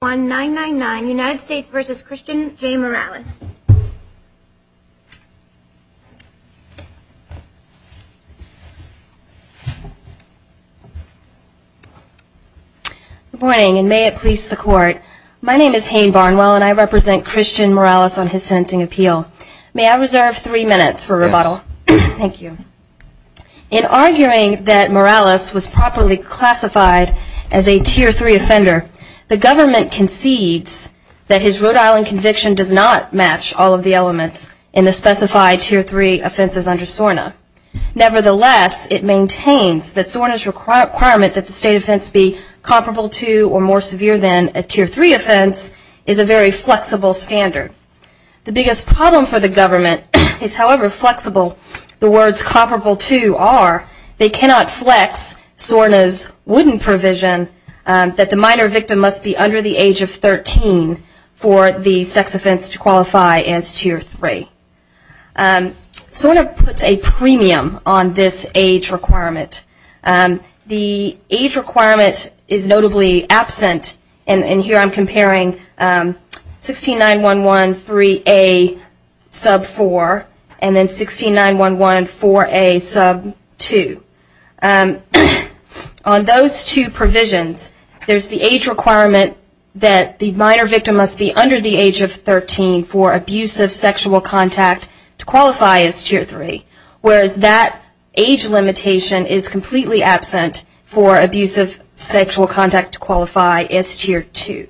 Good morning and may it please the court. My name is Hayne Barnwell and I represent Christian Morales on his sentencing appeal. May I reserve three minutes for rebuttal? Yes. Thank you. In arguing that Morales was properly classified as a Tier 3 offender, the government concedes that his Rhode Island conviction does not match all of the elements in the specified Tier 3 offenses under SORNA. Nevertheless, it maintains that SORNA's requirement that the state offense be comparable to or more severe than a Tier 3 offense is a very flexible standard. The biggest problem for the government is, however flexible the words comparable to are, they cannot flex SORNA's wooden provision that the minor victim must be under the age of 13 for the sex offense to qualify as Tier 3. SORNA puts a premium on this age requirement. The age requirement is notably absent and 169114A sub 2. On those two provisions, there is the age requirement that the minor victim must be under the age of 13 for abusive sexual contact to qualify as Tier 3, whereas that age limitation is completely absent for abusive sexual contact to qualify as Tier 2.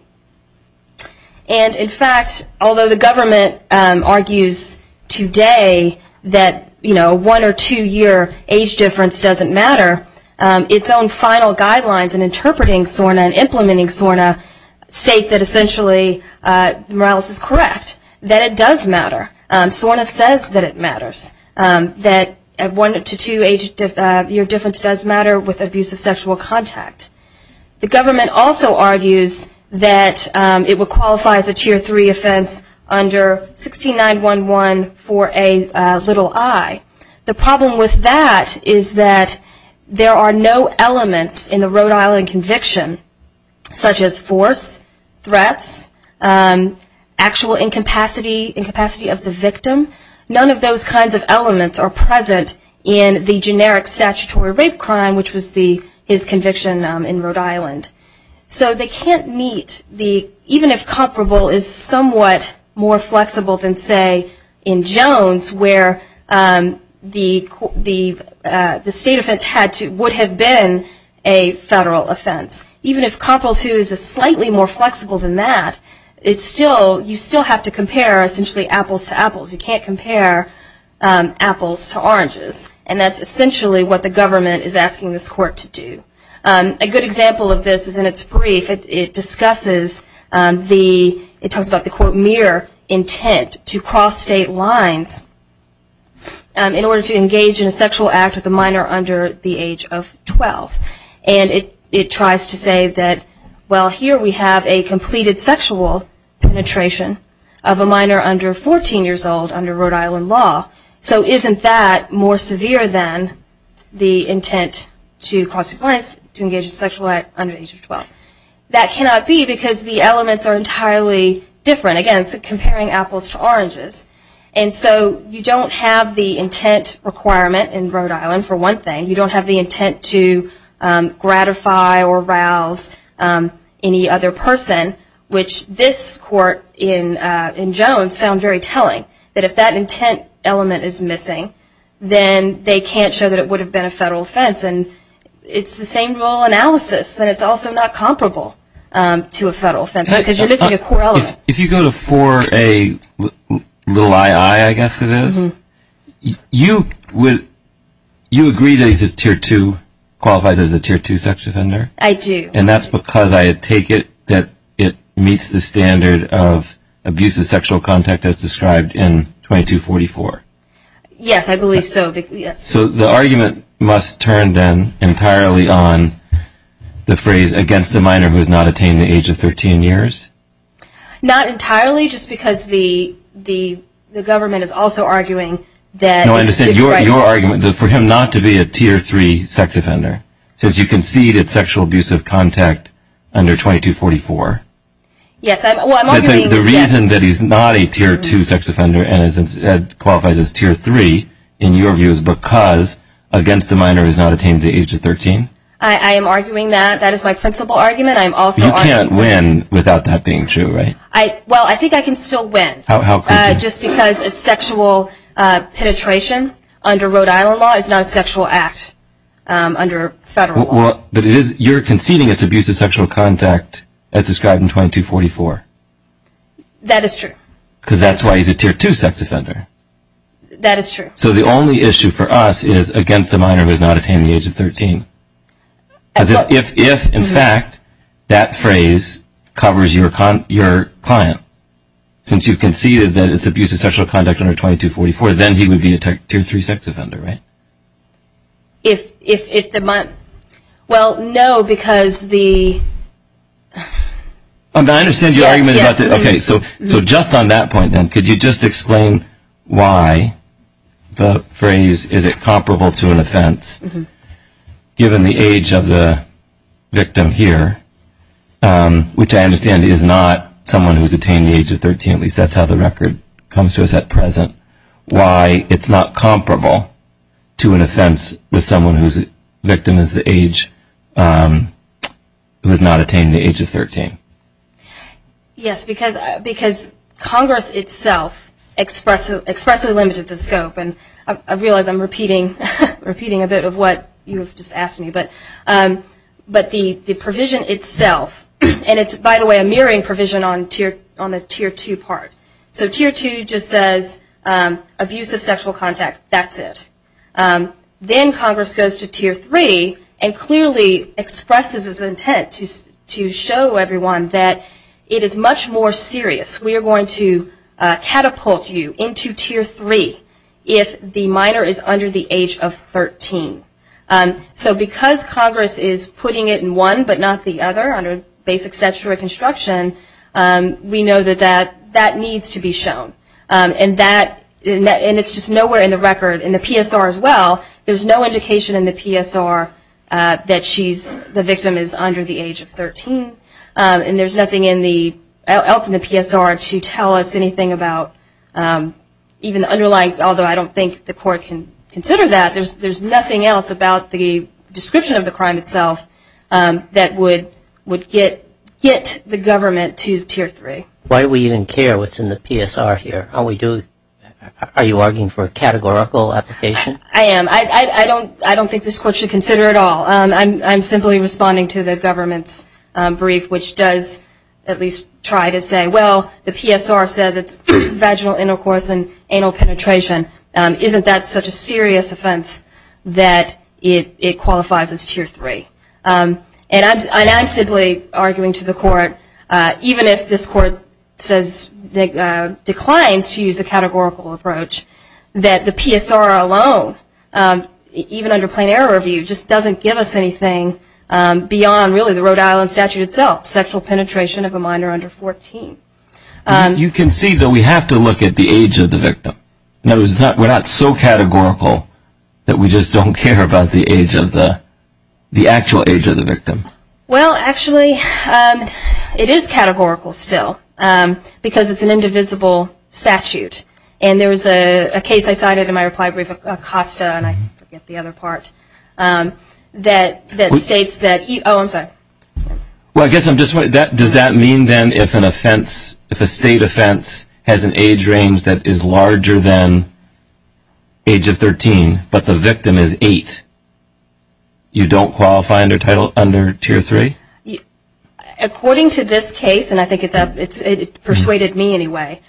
And in fact, although the government argues today that one or two year age difference doesn't matter, its own final guidelines in interpreting SORNA and implementing SORNA state that essentially Morales is correct, that it does matter. SORNA says that it matters, that one to two year difference does matter with abusive sexual contact. The government also argues that it will qualify as a Tier 3 offense under 169114A i. The problem with that is that there are no elements in the Rhode Island conviction such as force, threats, actual incapacity of the victim. None of those kinds of elements are present in the generic statutory rape crime, which was his conviction in Rhode Island. So they can't meet, even if comparable is somewhat more flexible than say in Jones where the state offense would have been a federal offense. Even if comparable to is slightly more flexible than that, you still have to compare essentially apples to apples. You can't compare apples to oranges. And that's what we're asking this court to do. A good example of this is in its brief. It discusses the, it talks about the quote mere intent to cross state lines in order to engage in a sexual act with a minor under the age of 12. And it tries to say that, well here we have a completed sexual penetration of a minor under 14 years old under Rhode Island law. So isn't that more severe than the intent to cross state lines to engage in a sexual act under the age of 12? That cannot be because the elements are entirely different. Again, it's comparing apples to oranges. And so you don't have the intent requirement in Rhode Island for one thing. You don't have the intent to gratify or rouse any other person, which this court in Jones found very telling. That if that intent element is missing, then they can't show that it would have been a federal offense. And it's the same rule analysis. That it's also not comparable to a federal offense because you're missing a core element. If you go to 4A, little II I guess it is, you would, you agree that he's a tier 2, qualifies as a tier 2 sex offender? I do. And that's because I take it that it meets the standard of abusive sexual contact as described in 2244? Yes, I believe so. So the argument must turn then entirely on the phrase against a minor who has not attained the age of 13 years? Not entirely, just because the government is also arguing that it's different. No, I understand your argument for him not to be a tier 3 sex offender. Since you conceded sexual abusive contact under 2244. The reason that he's not a tier 2 sex offender and qualifies as tier 3, in your view, is because against a minor who has not attained the age of 13? I am arguing that. That is my principal argument. You can't win without that being true, right? Well, I think I can still win. How could you? Just because sexual penetration under Rhode Island is a sexual act under federal law. But you're conceding it's abusive sexual contact as described in 2244. That is true. Because that's why he's a tier 2 sex offender. That is true. So the only issue for us is against a minor who has not attained the age of 13. If, in fact, that phrase covers your client, since you've conceded that it's abusive sexual contact under 2244, then he would be a tier 3 sex offender, right? Well, no, because the... I understand your argument about that. So just on that point, then, could you just explain why the phrase is it comparable to an offense given the age of the victim here, which I understand is not someone who's attained the age of 13, at least that's how the record comes to us at present, why it's not comparable to an offense with someone whose victim is the age who has not attained the age of 13? Yes, because Congress itself expressly limited the scope. And I realize I'm repeating a bit of what you have just asked me. But the provision itself, and it's, by the way, a mirroring provision on the tier 2 part. So tier 2 just says abusive sexual contact, that's it. Then Congress goes to tier 3 and clearly expresses its intent to show everyone that it is much more serious. We are going to catapult you into tier 3 if the minor is under the age of 13. So because Congress is putting it in one but not the other, under basic statutory construction, we know that that needs to be shown. And that, and it's just nowhere in the record in the PSR as well, there's no indication in the PSR that the victim is under the age of 13. And there's nothing else in the PSR to tell us anything about even the underlying, although I don't think the court can consider that, there's nothing else about the description of the crime itself that would get the government to tier 3. Why do we even care what's in the PSR here? Are you arguing for a categorical application? I am. I don't think this court should consider it at all. I'm simply responding to the government's brief, which does at least try to say, well, the PSR says it's vaginal intercourse and that it qualifies as tier 3. And I'm simply arguing to the court, even if this court says, declines to use a categorical approach, that the PSR alone, even under plain error review, just doesn't give us anything beyond really the Rhode Island statute itself, sexual penetration of a minor under 14. You can see that we have to look at the age of the victim. We're not so categorical that we just don't care about the age of the, the actual age of the victim. Well, actually, it is categorical still, because it's an indivisible statute. And there was a case I cited in my reply brief, Acosta, and I forget the other part, that states that, oh, I'm sorry. Well, I guess I'm just, does that mean then if an offense, if a state offense has an age range that is larger than age of 13, but the victim is 8, you don't qualify under title, under tier 3? According to this case, and I think it's, it persuaded me anyway,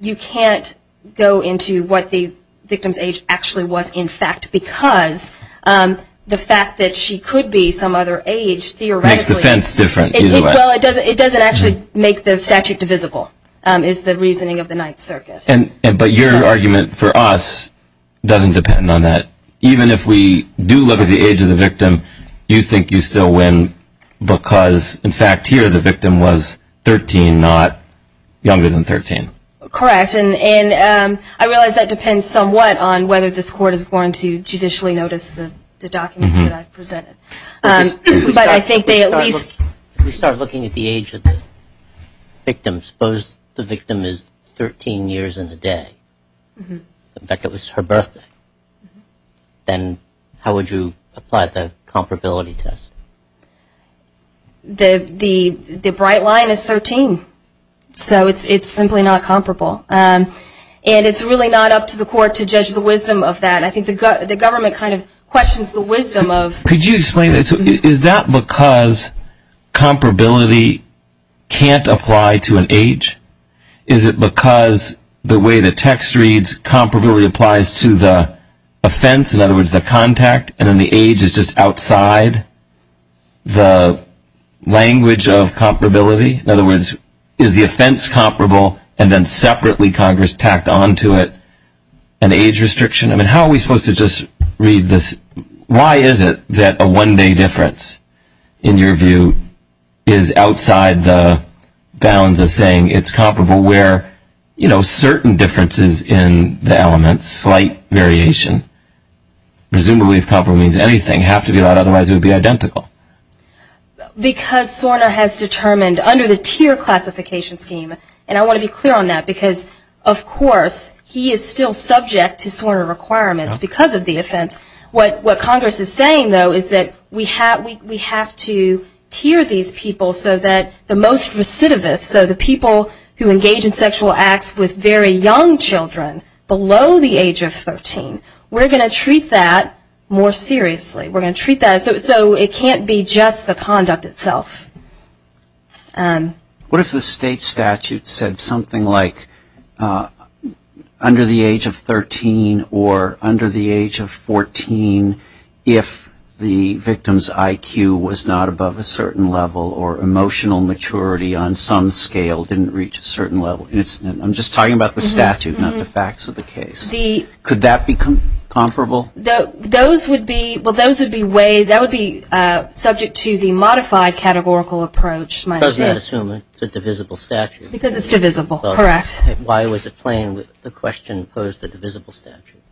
you can't go into what the victim's age actually was, in fact, because the fact that she could be some other age, theoretically. Makes the offense different, either way. Well, it doesn't, it doesn't actually make the statute divisible, is the reasoning of the Ninth Circuit. And, but your argument for us doesn't depend on that. Even if we do look at the age of the victim, you think you still win, because, in fact, here the victim was 13, not younger than 13. Correct, and I realize that depends somewhat on whether this court is going to judicially notice the documents that I've presented. But I think they at least If we start looking at the age of the victim, suppose the victim is 13 years and a day. In fact, it was her birthday. Then how would you apply the comparability test? The, the bright line is 13. So it's simply not comparable. And it's really not up to the court to judge the wisdom of that. I think the government kind of questions the wisdom of. Could you explain, is that because comparability can't apply to an age? Is it because the way the text reads comparability applies to the offense, in other words the contact, and then the age is just outside the language of comparability? In other words, is the offense comparable and then separately Congress tacked on to it an age restriction? How are we supposed to just read this? Why is it that a one day difference in your view is outside the bounds of saying it's comparable where, you know, certain differences in the elements, slight variation, presumably if comparable means anything, have to be allowed, otherwise it would be identical. Because Sorna has determined under the tier classification scheme, and I want to be clear on that because of course he is still subject to Sorna requirements because of the offense. What Congress is saying though is that we have to tier these people so that the most recidivist, so the people who engage in sexual acts with very young children below the age of 13, we're going to treat that more seriously. We're going to treat that so it can't be just the conduct itself. What if the state statute said something like under the age of 13 or under the age of 14 if the victim's IQ was not above a certain level or emotional maturity on some scale didn't reach a certain level? I'm just talking about the statute, not the facts of the case. Could that be comparable? Those would be subject to the modified categorical approach. Does that assume it's a divisible statute? Because it's divisible, correct. Why was the question posed a divisible statute?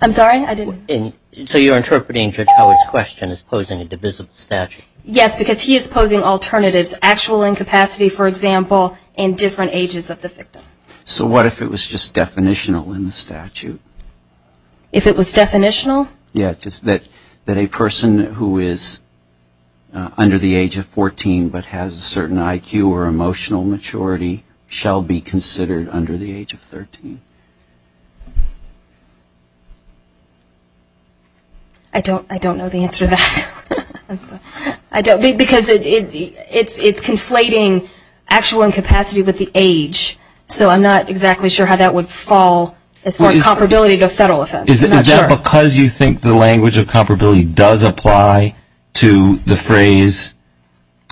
I'm sorry, I didn't... So you're interpreting Judge Howard's question as posing a divisible statute? Yes, because he is posing alternatives, actual incapacity, for example, in different ages of the victim. So what if it was just definitional in the statute? If it was definitional? Yes, just that a person who is under the age of 14 but has a certain IQ or emotional maturity shall be considered under the age of 13. I don't know the answer to that. Because it's conflating actual incapacity with the age. So I'm not exactly sure how that would fall as far as comparability to a federal offense. Is that because you think the language of comparability does apply to the phrase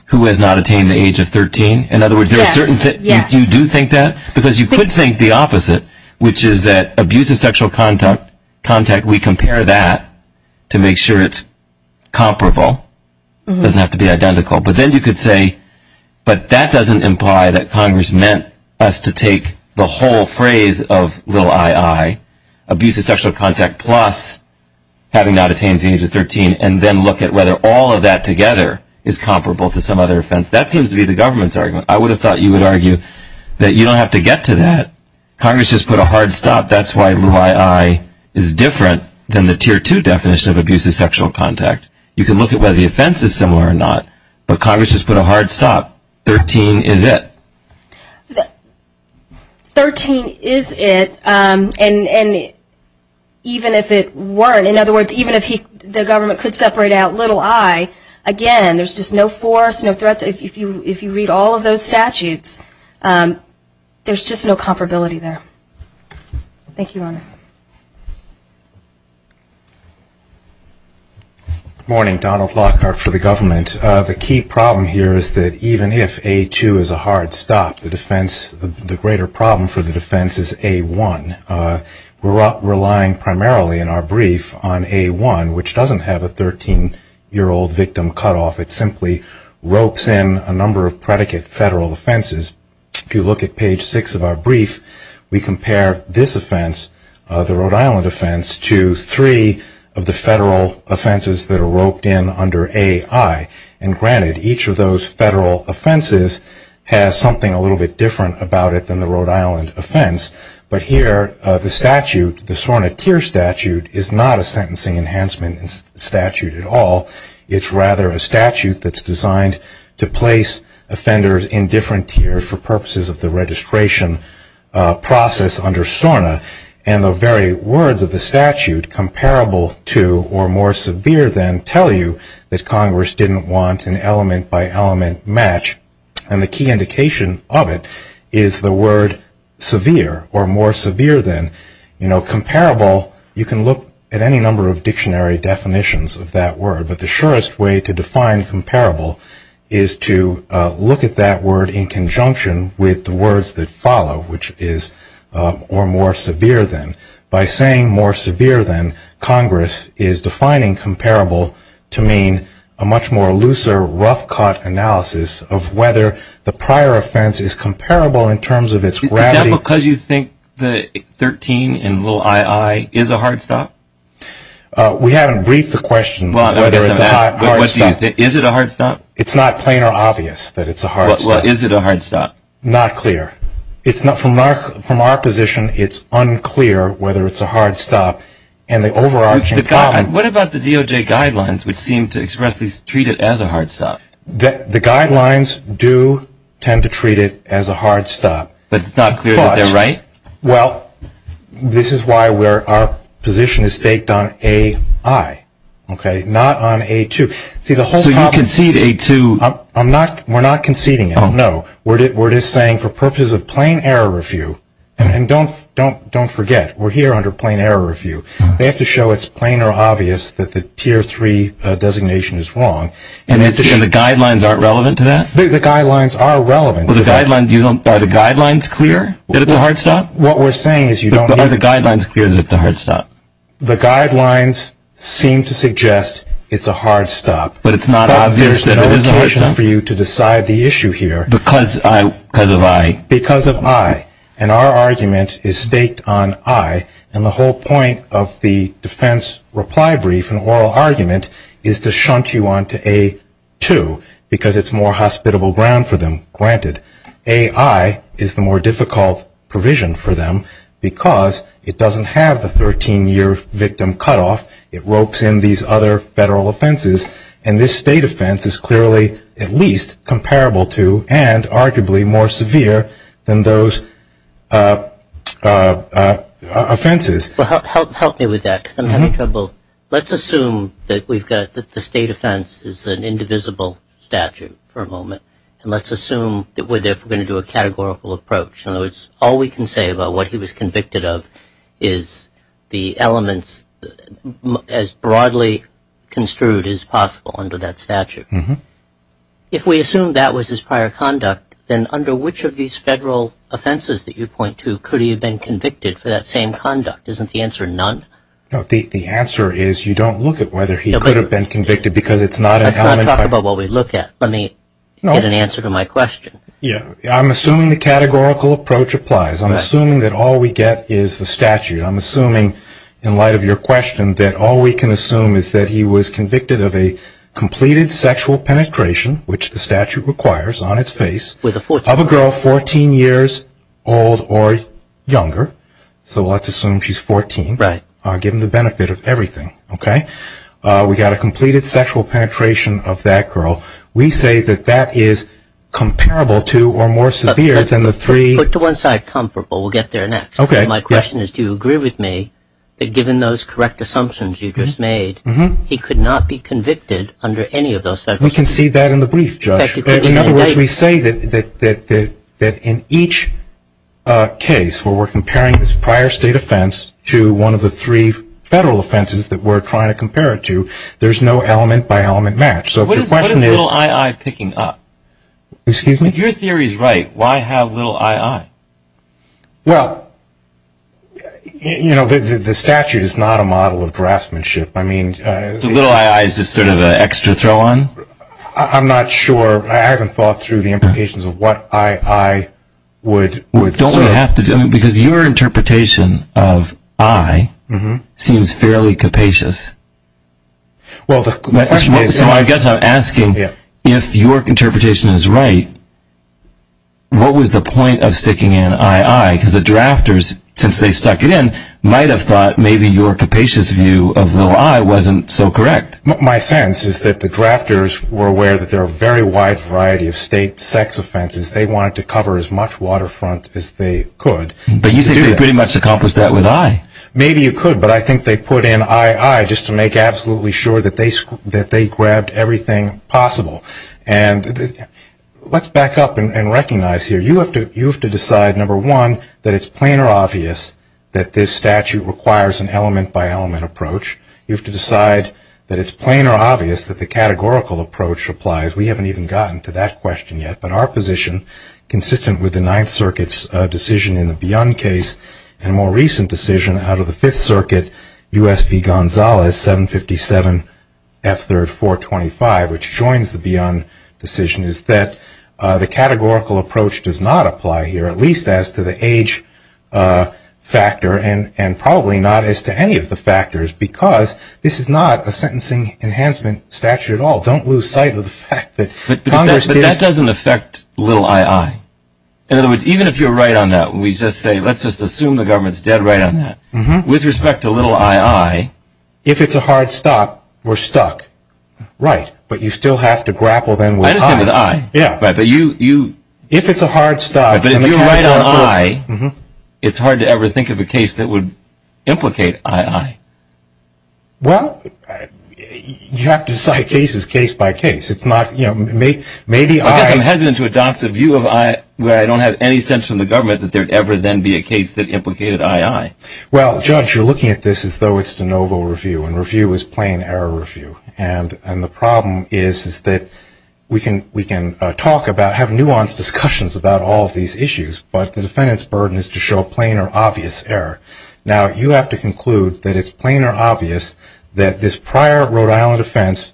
who has not attained the age of 13? Yes. You do think that? Because you could think the opposite, which is that abuse of sexual contact, we compare that to make sure it's comparable. It doesn't have to be identical. But then you could say, but that doesn't imply that Congress meant us to take the whole phrase of little I.I., abuse of sexual contact plus having not attained the age of 13, and then look at whether all of that together is comparable to some other offense. That seems to be the government's argument. I would have thought you would argue that you don't have to get to that. Congress just put a hard stop. That's why little I.I. is different than the Tier 2 definition of abuse of sexual contact. You can look at whether the offense is similar or not. But Congress just put a hard stop. Thirteen is it. Thirteen is it. And even if it weren't, in other words, even if the government could separate out little I, again, there's just no force, no threats. If you read all of those statutes, there's just no comparability there. Thank you, Ronis. Good morning. Donald Lockhart for the government. The key problem here is that even if A2 is a hard stop, the greater problem for the defense is A1. We're relying primarily in our brief on A1, which doesn't have a 13-year-old victim cutoff. It simply ropes in a number of predicate federal offenses. If you look at page 6 of our brief, we compare this offense, the Rhode Island offense, to three of the federal offenses that are roped in under AI. And granted, each of those federal offenses has something a little bit different about it than the Rhode Island offense. But here the statute, the SORNA Tier statute, is not a sentencing enhancement statute at all. It's rather a statute that's designed to place offenders in different tiers for purposes of the registration process under SORNA. And the very words of the statute, comparable to or more severe than, tell you that Congress didn't want an element-by-element match. And the key indication of it is the word severe or more severe than. Comparable, you can look at any number of dictionary definitions of that word. But the surest way to define comparable is to look at that word in conjunction with the words that follow, which is or more severe than. By saying more severe than, Congress is defining comparable to mean a much more looser rough cut analysis of whether the prior offense is comparable in terms of its gravity. Is that because you think the 13 and little II is a hard stop? We haven't briefed the question whether it's a hard stop. Is it a hard stop? It's not plain or obvious that it's a hard stop. Is it a hard stop? Not clear. From our position, it's unclear whether it's a hard stop. What about the DOJ guidelines, which seem to expressly treat it as a hard stop? The guidelines do tend to treat it as a hard stop. But it's not clear that they're right? Well, this is why our position is staked on AI, not on A2. So you concede A2? We're not conceding it, no. We're just saying for purposes of plain error review, and don't forget, we're here under plain error review, they have to show it's plain or obvious that the tier III designation is wrong. And the guidelines aren't relevant to that? The guidelines are relevant. Are the guidelines clear that it's a hard stop? What we're saying is you don't need to. But are the guidelines clear that it's a hard stop? The guidelines seem to suggest it's a hard stop. But it's not obvious that it is a hard stop? There's no occasion for you to decide the issue here. Because of AI? Because of AI. And our argument is staked on AI, and the whole point of the defense reply brief and oral argument is to shunt you on to A2, because it's more hospitable ground for them, granted. AI is the more difficult provision for them, because it doesn't have the 13-year victim cutoff. It ropes in these other federal offenses, and this state offense is clearly at least comparable to and arguably more severe than those offenses. Help me with that, because I'm having trouble. Let's assume that the state offense is an indivisible statute for a moment, and let's assume that we're therefore going to do a categorical approach. In other words, all we can say about what he was convicted of is the elements, as broadly construed as possible under that statute. If we assume that was his prior conduct, then under which of these federal offenses that you point to could he have been convicted for that same conduct? Isn't the answer none? No, the answer is you don't look at whether he could have been convicted, because it's not an element. Let's talk about what we look at. Let me get an answer to my question. I'm assuming the categorical approach applies. I'm assuming that all we get is the statute. I'm assuming, in light of your question, that all we can assume is that he was convicted of a completed sexual penetration, which the statute requires on its face, of a girl 14 years old or younger. So let's assume she's 14, given the benefit of everything. We've got a completed sexual penetration of that girl. We say that that is comparable to or more severe than the three. Put to one side, comparable. We'll get there next. My question is, do you agree with me that given those correct assumptions you just made, he could not be convicted under any of those federal statutes? We can see that in the brief, Judge. In other words, we say that in each case where we're comparing this prior state offense to one of the three federal offenses that we're trying to compare it to, there's no element-by-element match. What is little I.I. picking up? Excuse me? If your theory is right, why have little I.I.? Well, you know, the statute is not a model of draftsmanship. So little I.I. is just sort of an extra throw-on? I'm not sure. I haven't thought through the implications of what I.I. would serve. Because your interpretation of I seems fairly capacious. So I guess I'm asking, if your interpretation is right, what was the point of sticking in I.I.? Because the drafters, since they stuck it in, might have thought maybe your capacious view of little I wasn't so correct. My sense is that the drafters were aware that there are a very wide variety of state sex offenses. They wanted to cover as much waterfront as they could. But you think they pretty much accomplished that with I. Maybe you could. But I think they put in I.I. just to make absolutely sure that they grabbed everything possible. And let's back up and recognize here, you have to decide, number one, that it's plain or obvious that this statute requires an element-by-element approach. You have to decide that it's plain or obvious that the categorical approach applies. We haven't even gotten to that question yet. But our position, consistent with the Ninth Circuit's decision in the Beyond case and a more recent decision out of the Fifth Circuit, U.S. v. Gonzales, 757 F. 3rd 425, which joins the Beyond decision, is that the categorical approach does not apply here, at least as to the age factor and probably not as to any of the factors, because this is not a sentencing enhancement statute at all. Don't lose sight of the fact that Congress did. It doesn't affect little I.I. In other words, even if you're right on that, we just say let's just assume the government's dead right on that. With respect to little I.I. If it's a hard stop, we're stuck. Right. But you still have to grapple then with I. I understand with I. Yeah. But you. If it's a hard stop and the categorical. But if you're right on I, it's hard to ever think of a case that would implicate I.I. Well, you have to decide cases case by case. Maybe I. I guess I'm hesitant to adopt a view where I don't have any sense from the government that there would ever then be a case that implicated I.I. Well, Judge, you're looking at this as though it's de novo review, and review is plain error review. And the problem is that we can talk about, have nuanced discussions about all of these issues, but the defendant's burden is to show plain or obvious error. Now, you have to conclude that it's plain or obvious that this prior Rhode Island offense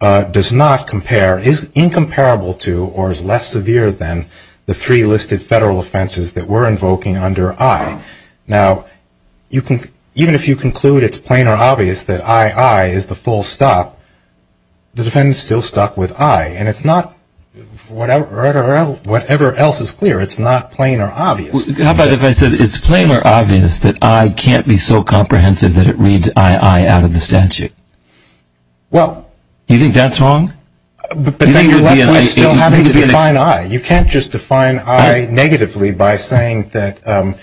does not compare, is incomparable to, or is less severe than the three listed federal offenses that we're invoking under I. Now, even if you conclude it's plain or obvious that I.I. is the full stop, the defendant's still stuck with I. And it's not whatever else is clear, it's not plain or obvious. How about if I said it's plain or obvious that I can't be so comprehensive that it reads I.I. out of the statute? Well, you think that's wrong? But then you're left with still having to define I. You can't just define I negatively by saying that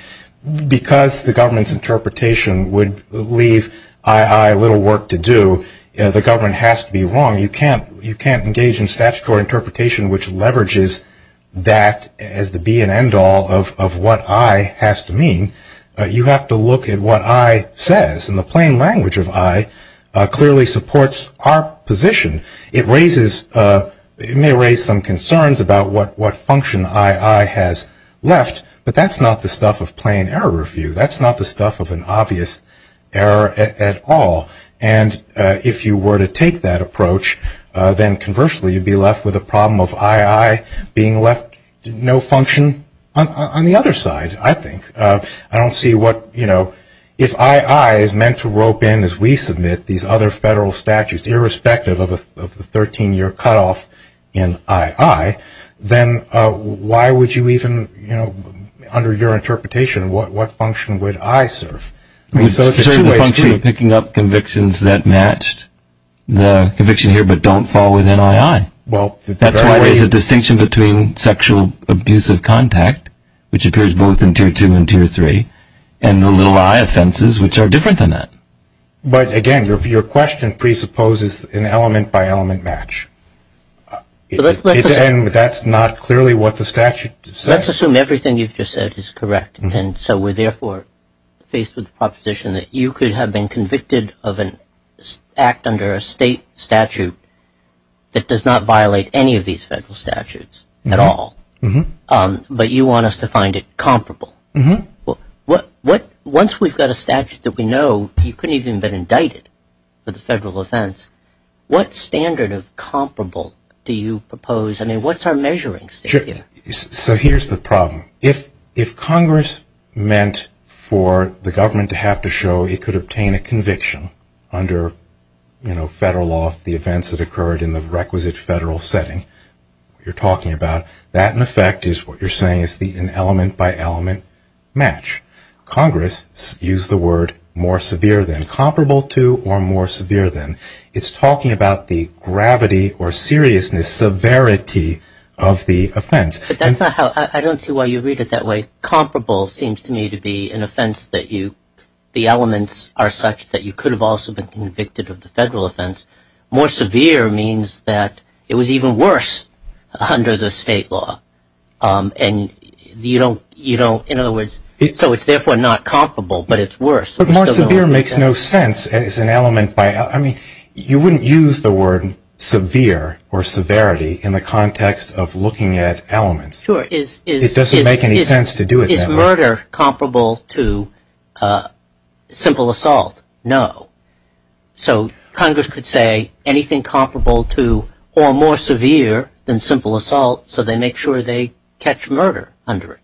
because the government's interpretation would leave I.I. little work to do, the government has to be wrong. You can't engage in statutory interpretation which leverages that as the be-and-end-all of what I has to mean. You have to look at what I says, and the plain language of I clearly supports our position. It may raise some concerns about what function I.I. has left, but that's not the stuff of plain error review. That's not the stuff of an obvious error at all. And if you were to take that approach, then conversely you'd be left with a problem of I.I. being left no function on the other side, I think. I don't see what, you know, if I.I. is meant to rope in as we submit these other federal statutes, irrespective of the 13-year cutoff in I.I., then why would you even, you know, under your interpretation, what function would I serve? It would serve the function of picking up convictions that matched the conviction here but don't fall within I.I. That's why there's a distinction between sexual abusive contact, which appears both in Tier 2 and Tier 3, and the little I.I. offenses, which are different than that. But again, your question presupposes an element-by-element match. And that's not clearly what the statute says. Let's assume everything you've just said is correct, and so we're therefore faced with the proposition that you could have been convicted of an act under a state statute that does not violate any of these federal statutes at all, but you want us to find it comparable. Once we've got a statute that we know you couldn't even have been indicted for the federal offense, what standard of comparable do you propose? I mean, what's our measuring standard? So here's the problem. If Congress meant for the government to have to show it could obtain a conviction under, you know, federal law, the events that occurred in the requisite federal setting you're talking about, that in effect is what you're saying is an element-by-element match. Congress used the word more severe than, comparable to, or more severe than. It's talking about the gravity or seriousness, severity of the offense. But that's not how – I don't see why you read it that way. Comparable seems to me to be an offense that you – the elements are such that you could have also been convicted of the federal offense. More severe means that it was even worse under the state law. And you don't – you don't – in other words, so it's therefore not comparable, but it's worse. But more severe makes no sense as an element-by-element. I mean, you wouldn't use the word severe or severity in the context of looking at elements. Sure. It doesn't make any sense to do it that way. Is murder comparable to simple assault? No. So Congress could say anything comparable to or more severe than simple assault so they make sure they catch murder under it.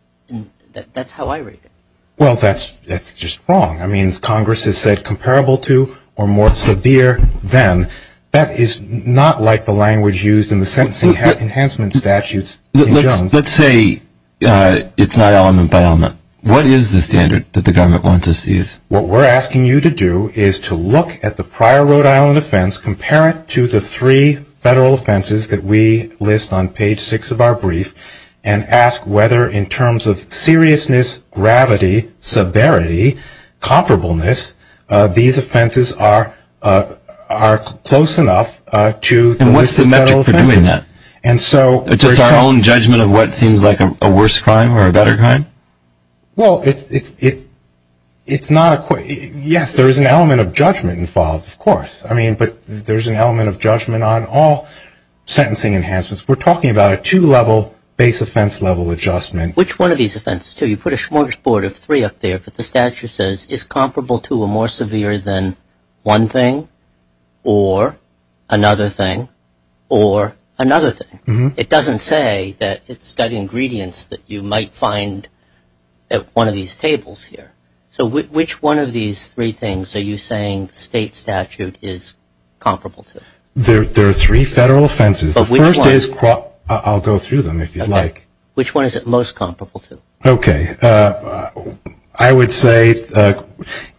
That's how I read it. Well, that's just wrong. I mean, Congress has said comparable to or more severe than. That is not like the language used in the sentencing enhancement statutes in Jones. Let's say it's not element-by-element. What is the standard that the government wants us to use? What we're asking you to do is to look at the prior Rhode Island offense, compare it to the three federal offenses that we list on page six of our brief, and ask whether in terms of seriousness, gravity, severity, comparableness, these offenses are close enough to the list of federal offenses. And what's the metric for doing that? Just our own judgment of what seems like a worse crime or a better crime? Well, yes, there is an element of judgment involved, of course. I mean, but there's an element of judgment on all sentencing enhancements. We're talking about a two-level base offense level adjustment. Which one of these offenses? You put a smorgasbord of three up there, but the statute says, is comparable to or more severe than one thing or another thing or another thing. It doesn't say that it's got ingredients that you might find at one of these tables here. So which one of these three things are you saying the state statute is comparable to? There are three federal offenses. I'll go through them if you'd like. Which one is it most comparable to? Okay. I would say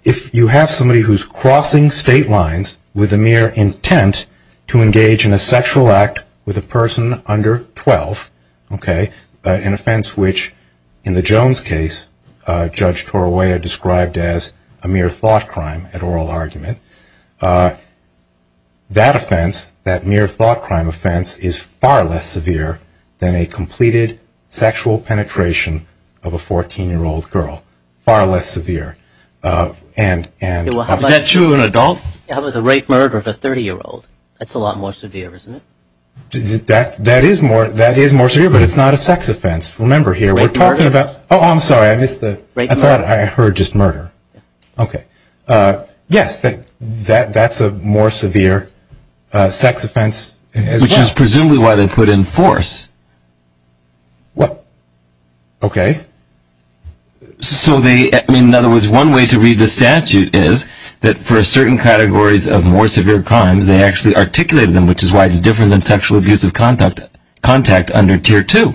if you have somebody who's crossing state lines with a mere intent to engage in a sexual act with a person under 12, okay, an offense which, in the Jones case, Judge Torowea described as a mere thought crime at oral argument, that offense, that mere thought crime offense, is far less severe than a completed sexual penetration of a 14-year-old girl. Far less severe. Is that true in an adult? How about the rape murder of a 30-year-old? That's a lot more severe, isn't it? That is more severe, but it's not a sex offense. Remember here, we're talking about – oh, I'm sorry. I thought I heard just murder. Okay. Yes, that's a more severe sex offense as well. Which is presumably why they put in force. What? Okay. So they – in other words, one way to read the statute is that for certain categories of more severe crimes, they actually articulated them, which is why it's different than sexual abuse of contact under Tier 2.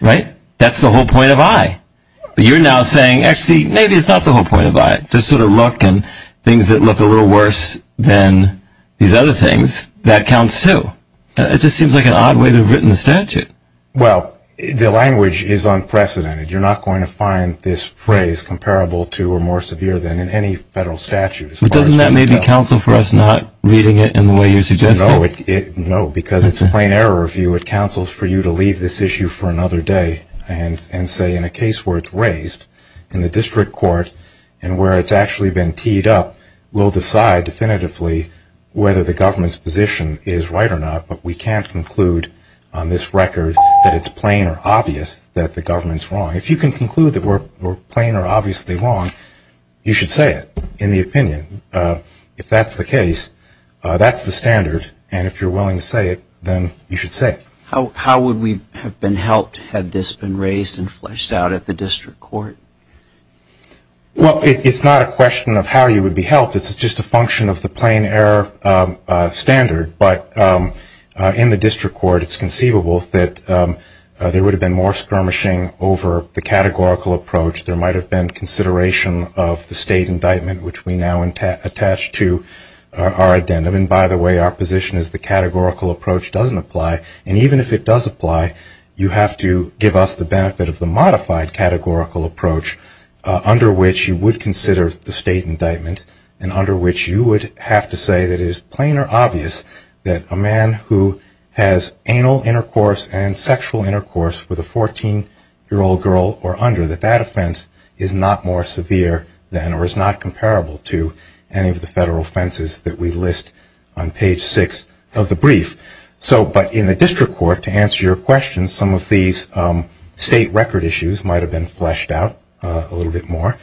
Right? That's the whole point of I. But you're now saying, actually, maybe it's not the whole point of I. This sort of look and things that look a little worse than these other things, that counts too. It just seems like an odd way to have written the statute. Well, the language is unprecedented. You're not going to find this phrase comparable to or more severe than in any federal statute. But doesn't that maybe counsel for us not reading it in the way you suggested? No, because it's a plain error of view. The statute counsels for you to leave this issue for another day and say in a case where it's raised in the district court and where it's actually been teed up, we'll decide definitively whether the government's position is right or not, but we can't conclude on this record that it's plain or obvious that the government's wrong. If you can conclude that we're plain or obviously wrong, you should say it in the opinion. If that's the case, that's the standard, and if you're willing to say it, then you should say it. How would we have been helped had this been raised and fleshed out at the district court? Well, it's not a question of how you would be helped. It's just a function of the plain error standard. But in the district court, it's conceivable that there would have been more skirmishing over the categorical approach. There might have been consideration of the state indictment, which we now attach to our addendum. And by the way, our position is the categorical approach doesn't apply. And even if it does apply, you have to give us the benefit of the modified categorical approach, under which you would consider the state indictment and under which you would have to say that it is plain or obvious that a man who has anal intercourse and sexual intercourse with a 14-year-old girl or under, that that offense is not more severe than or is not comparable to any of the federal offenses that we list on page 6 of the brief. But in the district court, to answer your question, some of these state record issues might have been fleshed out a little bit more.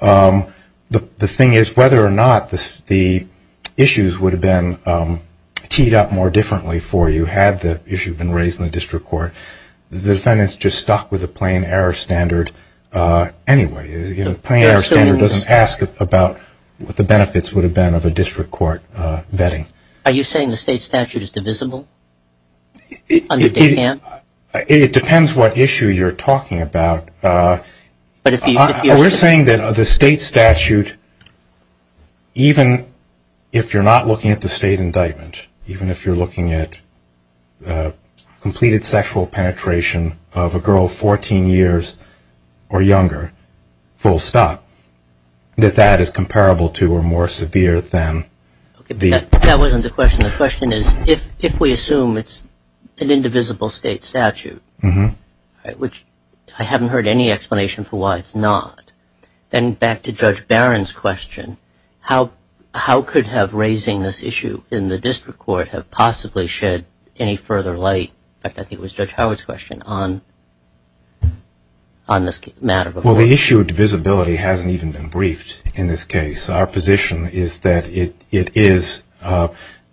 The thing is whether or not the issues would have been teed up more differently for you had the issue been raised in the district court, the defendants just stuck with a plain error standard anyway. A plain error standard doesn't ask about what the benefits would have been of a district court vetting. Are you saying the state statute is divisible? It depends what issue you're talking about. We're saying that the state statute, even if you're not looking at the state indictment, even if you're looking at completed sexual penetration of a girl 14 years or younger, full stop, that that is comparable to or more severe than the... That wasn't the question. The question is if we assume it's an indivisible state statute, which I haven't heard any explanation for why it's not, then back to Judge Barron's question, how could have raising this issue in the district court have possibly shed any further light, I think it was Judge Howard's question, on this matter? Well, the issue of divisibility hasn't even been briefed in this case. Our position is that it is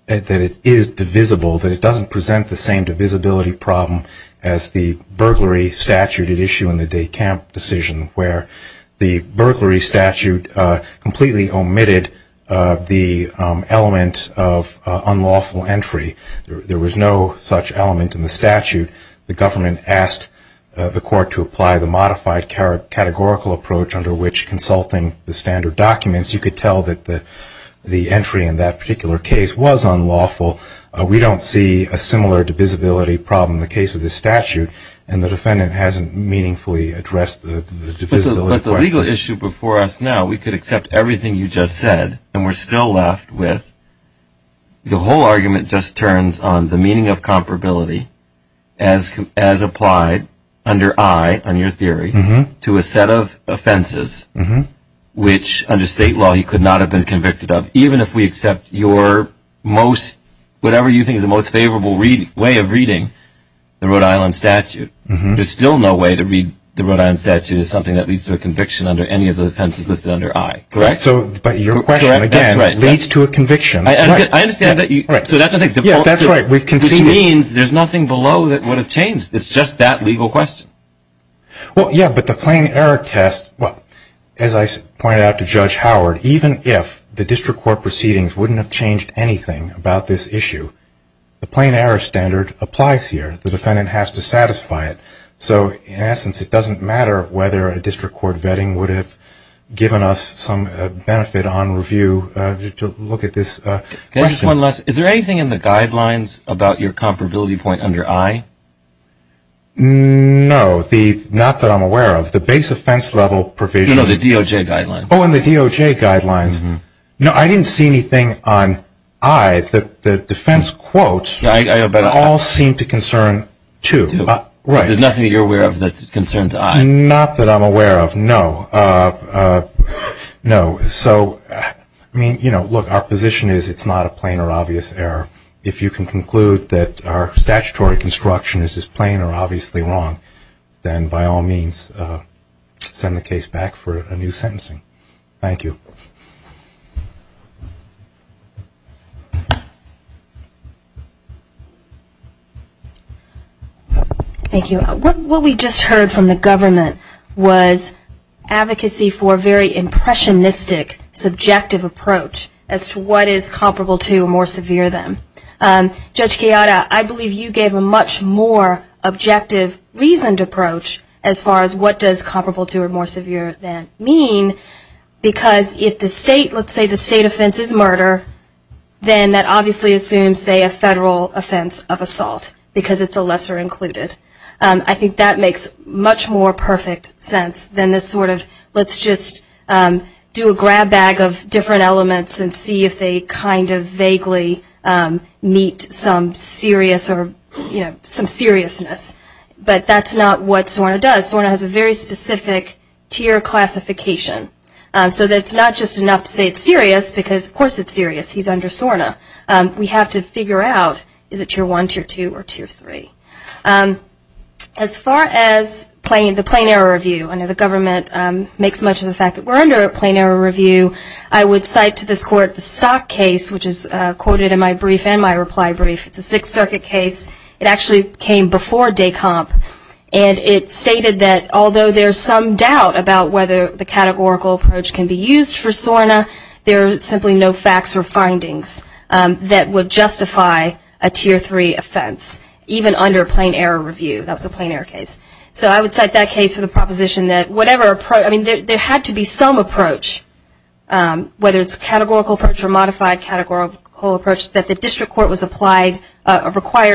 divisible, that it doesn't present the same divisibility problem as the burglary statute where the burglary statute completely omitted the element of unlawful entry. There was no such element in the statute. The government asked the court to apply the modified categorical approach under which, consulting the standard documents, you could tell that the entry in that particular case was unlawful. We don't see a similar divisibility problem in the case of this statute, and the defendant hasn't meaningfully addressed the divisibility question. But the legal issue before us now, we could accept everything you just said, and we're still left with, the whole argument just turns on the meaning of comparability as applied under I, on your theory, to a set of offenses which, under state law, he could not have been convicted of, even if we accept your most, whatever you think is the most favorable way of reading the Rhode Island statute. There's still no way to read the Rhode Island statute as something that leads to a conviction under any of the offenses listed under I. Correct? But your question, again, leads to a conviction. I understand that. So that's what I think. Yeah, that's right. Which means there's nothing below that would have changed. It's just that legal question. Well, yeah, but the plain error test, as I pointed out to Judge Howard, even if the district court proceedings wouldn't have changed anything about this issue, the plain error standard applies here. The defendant has to satisfy it. So, in essence, it doesn't matter whether a district court vetting would have given us some benefit on review to look at this question. Is there anything in the guidelines about your comparability point under I? No, not that I'm aware of. The base offense level provision. No, the DOJ guidelines. Oh, and the DOJ guidelines. No, I didn't see anything on I. The defense quotes all seem to concern to. There's nothing that you're aware of that concerns I? Not that I'm aware of, no. So, I mean, you know, look, our position is it's not a plain or obvious error. If you can conclude that our statutory construction is just plain or obviously wrong, then, by all means, send the case back for a new sentencing. Thank you. Thank you. What we just heard from the government was advocacy for a very impressionistic, subjective approach as to what is comparable to or more severe than. Judge Chiara, I believe you gave a much more objective, reasoned approach as far as what does comparable to or more severe than mean, because if the state, let's say the state offense is murder, then that obviously assumes, say, a federal offense of assault, because it's a lesser included. I think that makes much more perfect sense than this sort of let's just do a grab bag of different elements and see if they kind of vaguely meet some serious or, you know, some seriousness. But that's not what SORNA does. SORNA has a very specific tier classification. So that's not just enough to say it's serious, because, of course, it's serious. He's under SORNA. We have to figure out, is it tier one, tier two, or tier three? As far as the plain error review, I know the government makes much of the fact that we're under a plain error review. I would cite to this court the Stock case, which is quoted in my brief and my reply brief. It's a Sixth Circuit case. It actually came before DECOMP, and it stated that although there's some doubt about whether the categorical approach can be used for SORNA, there are simply no facts or findings that would justify a tier three offense, even under a plain error review. That was a plain error case. So I would cite that case for the proposition that whatever approach ‑‑ I mean, there had to be some approach, whether it's a categorical approach or a modified categorical approach, that the district court was required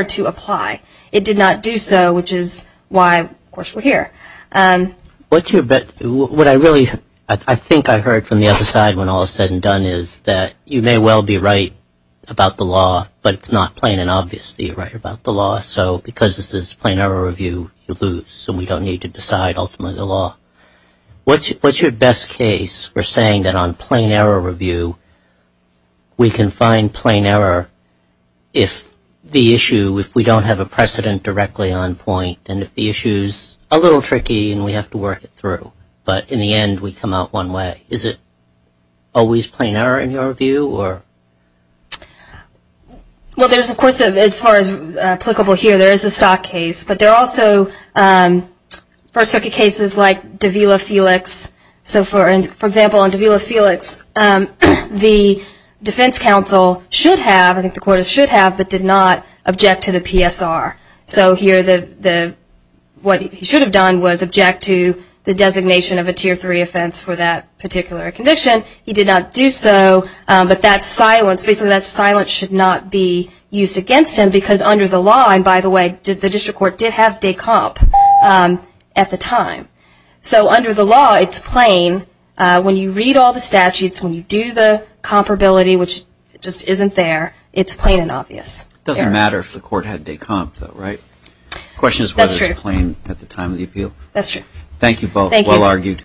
to apply. It did not do so, which is why, of course, we're here. What I really ‑‑ I think I heard from the other side when all is said and done is that you may well be right about the law, but it's not plain and obvious that you're right about the law. So because this is a plain error review, you lose, and we don't need to decide, ultimately, the law. What's your best case for saying that on plain error review, we can find plain error if the issue, if we don't have a precedent directly on point, and if the issue's a little tricky and we have to work it through, but in the end, we come out one way? Is it always plain error in your view? Well, there's, of course, as far as applicable here, there is a stock case, but there are also first circuit cases like Davila Felix. So, for example, on Davila Felix, the defense counsel should have, I think the court should have, but did not object to the PSR. So here, what he should have done was object to the designation of a Tier 3 offense for that particular conviction. He did not do so, but that silence, basically that silence should not be used against him because under the law, and by the way, the district court did have de comp at the time. So under the law, it's plain. When you read all the statutes, when you do the comparability, which just isn't there, it's plain and obvious. It doesn't matter if the court had de comp, though, right? The question is whether it's plain at the time of the appeal. That's true. Thank you both. Well argued.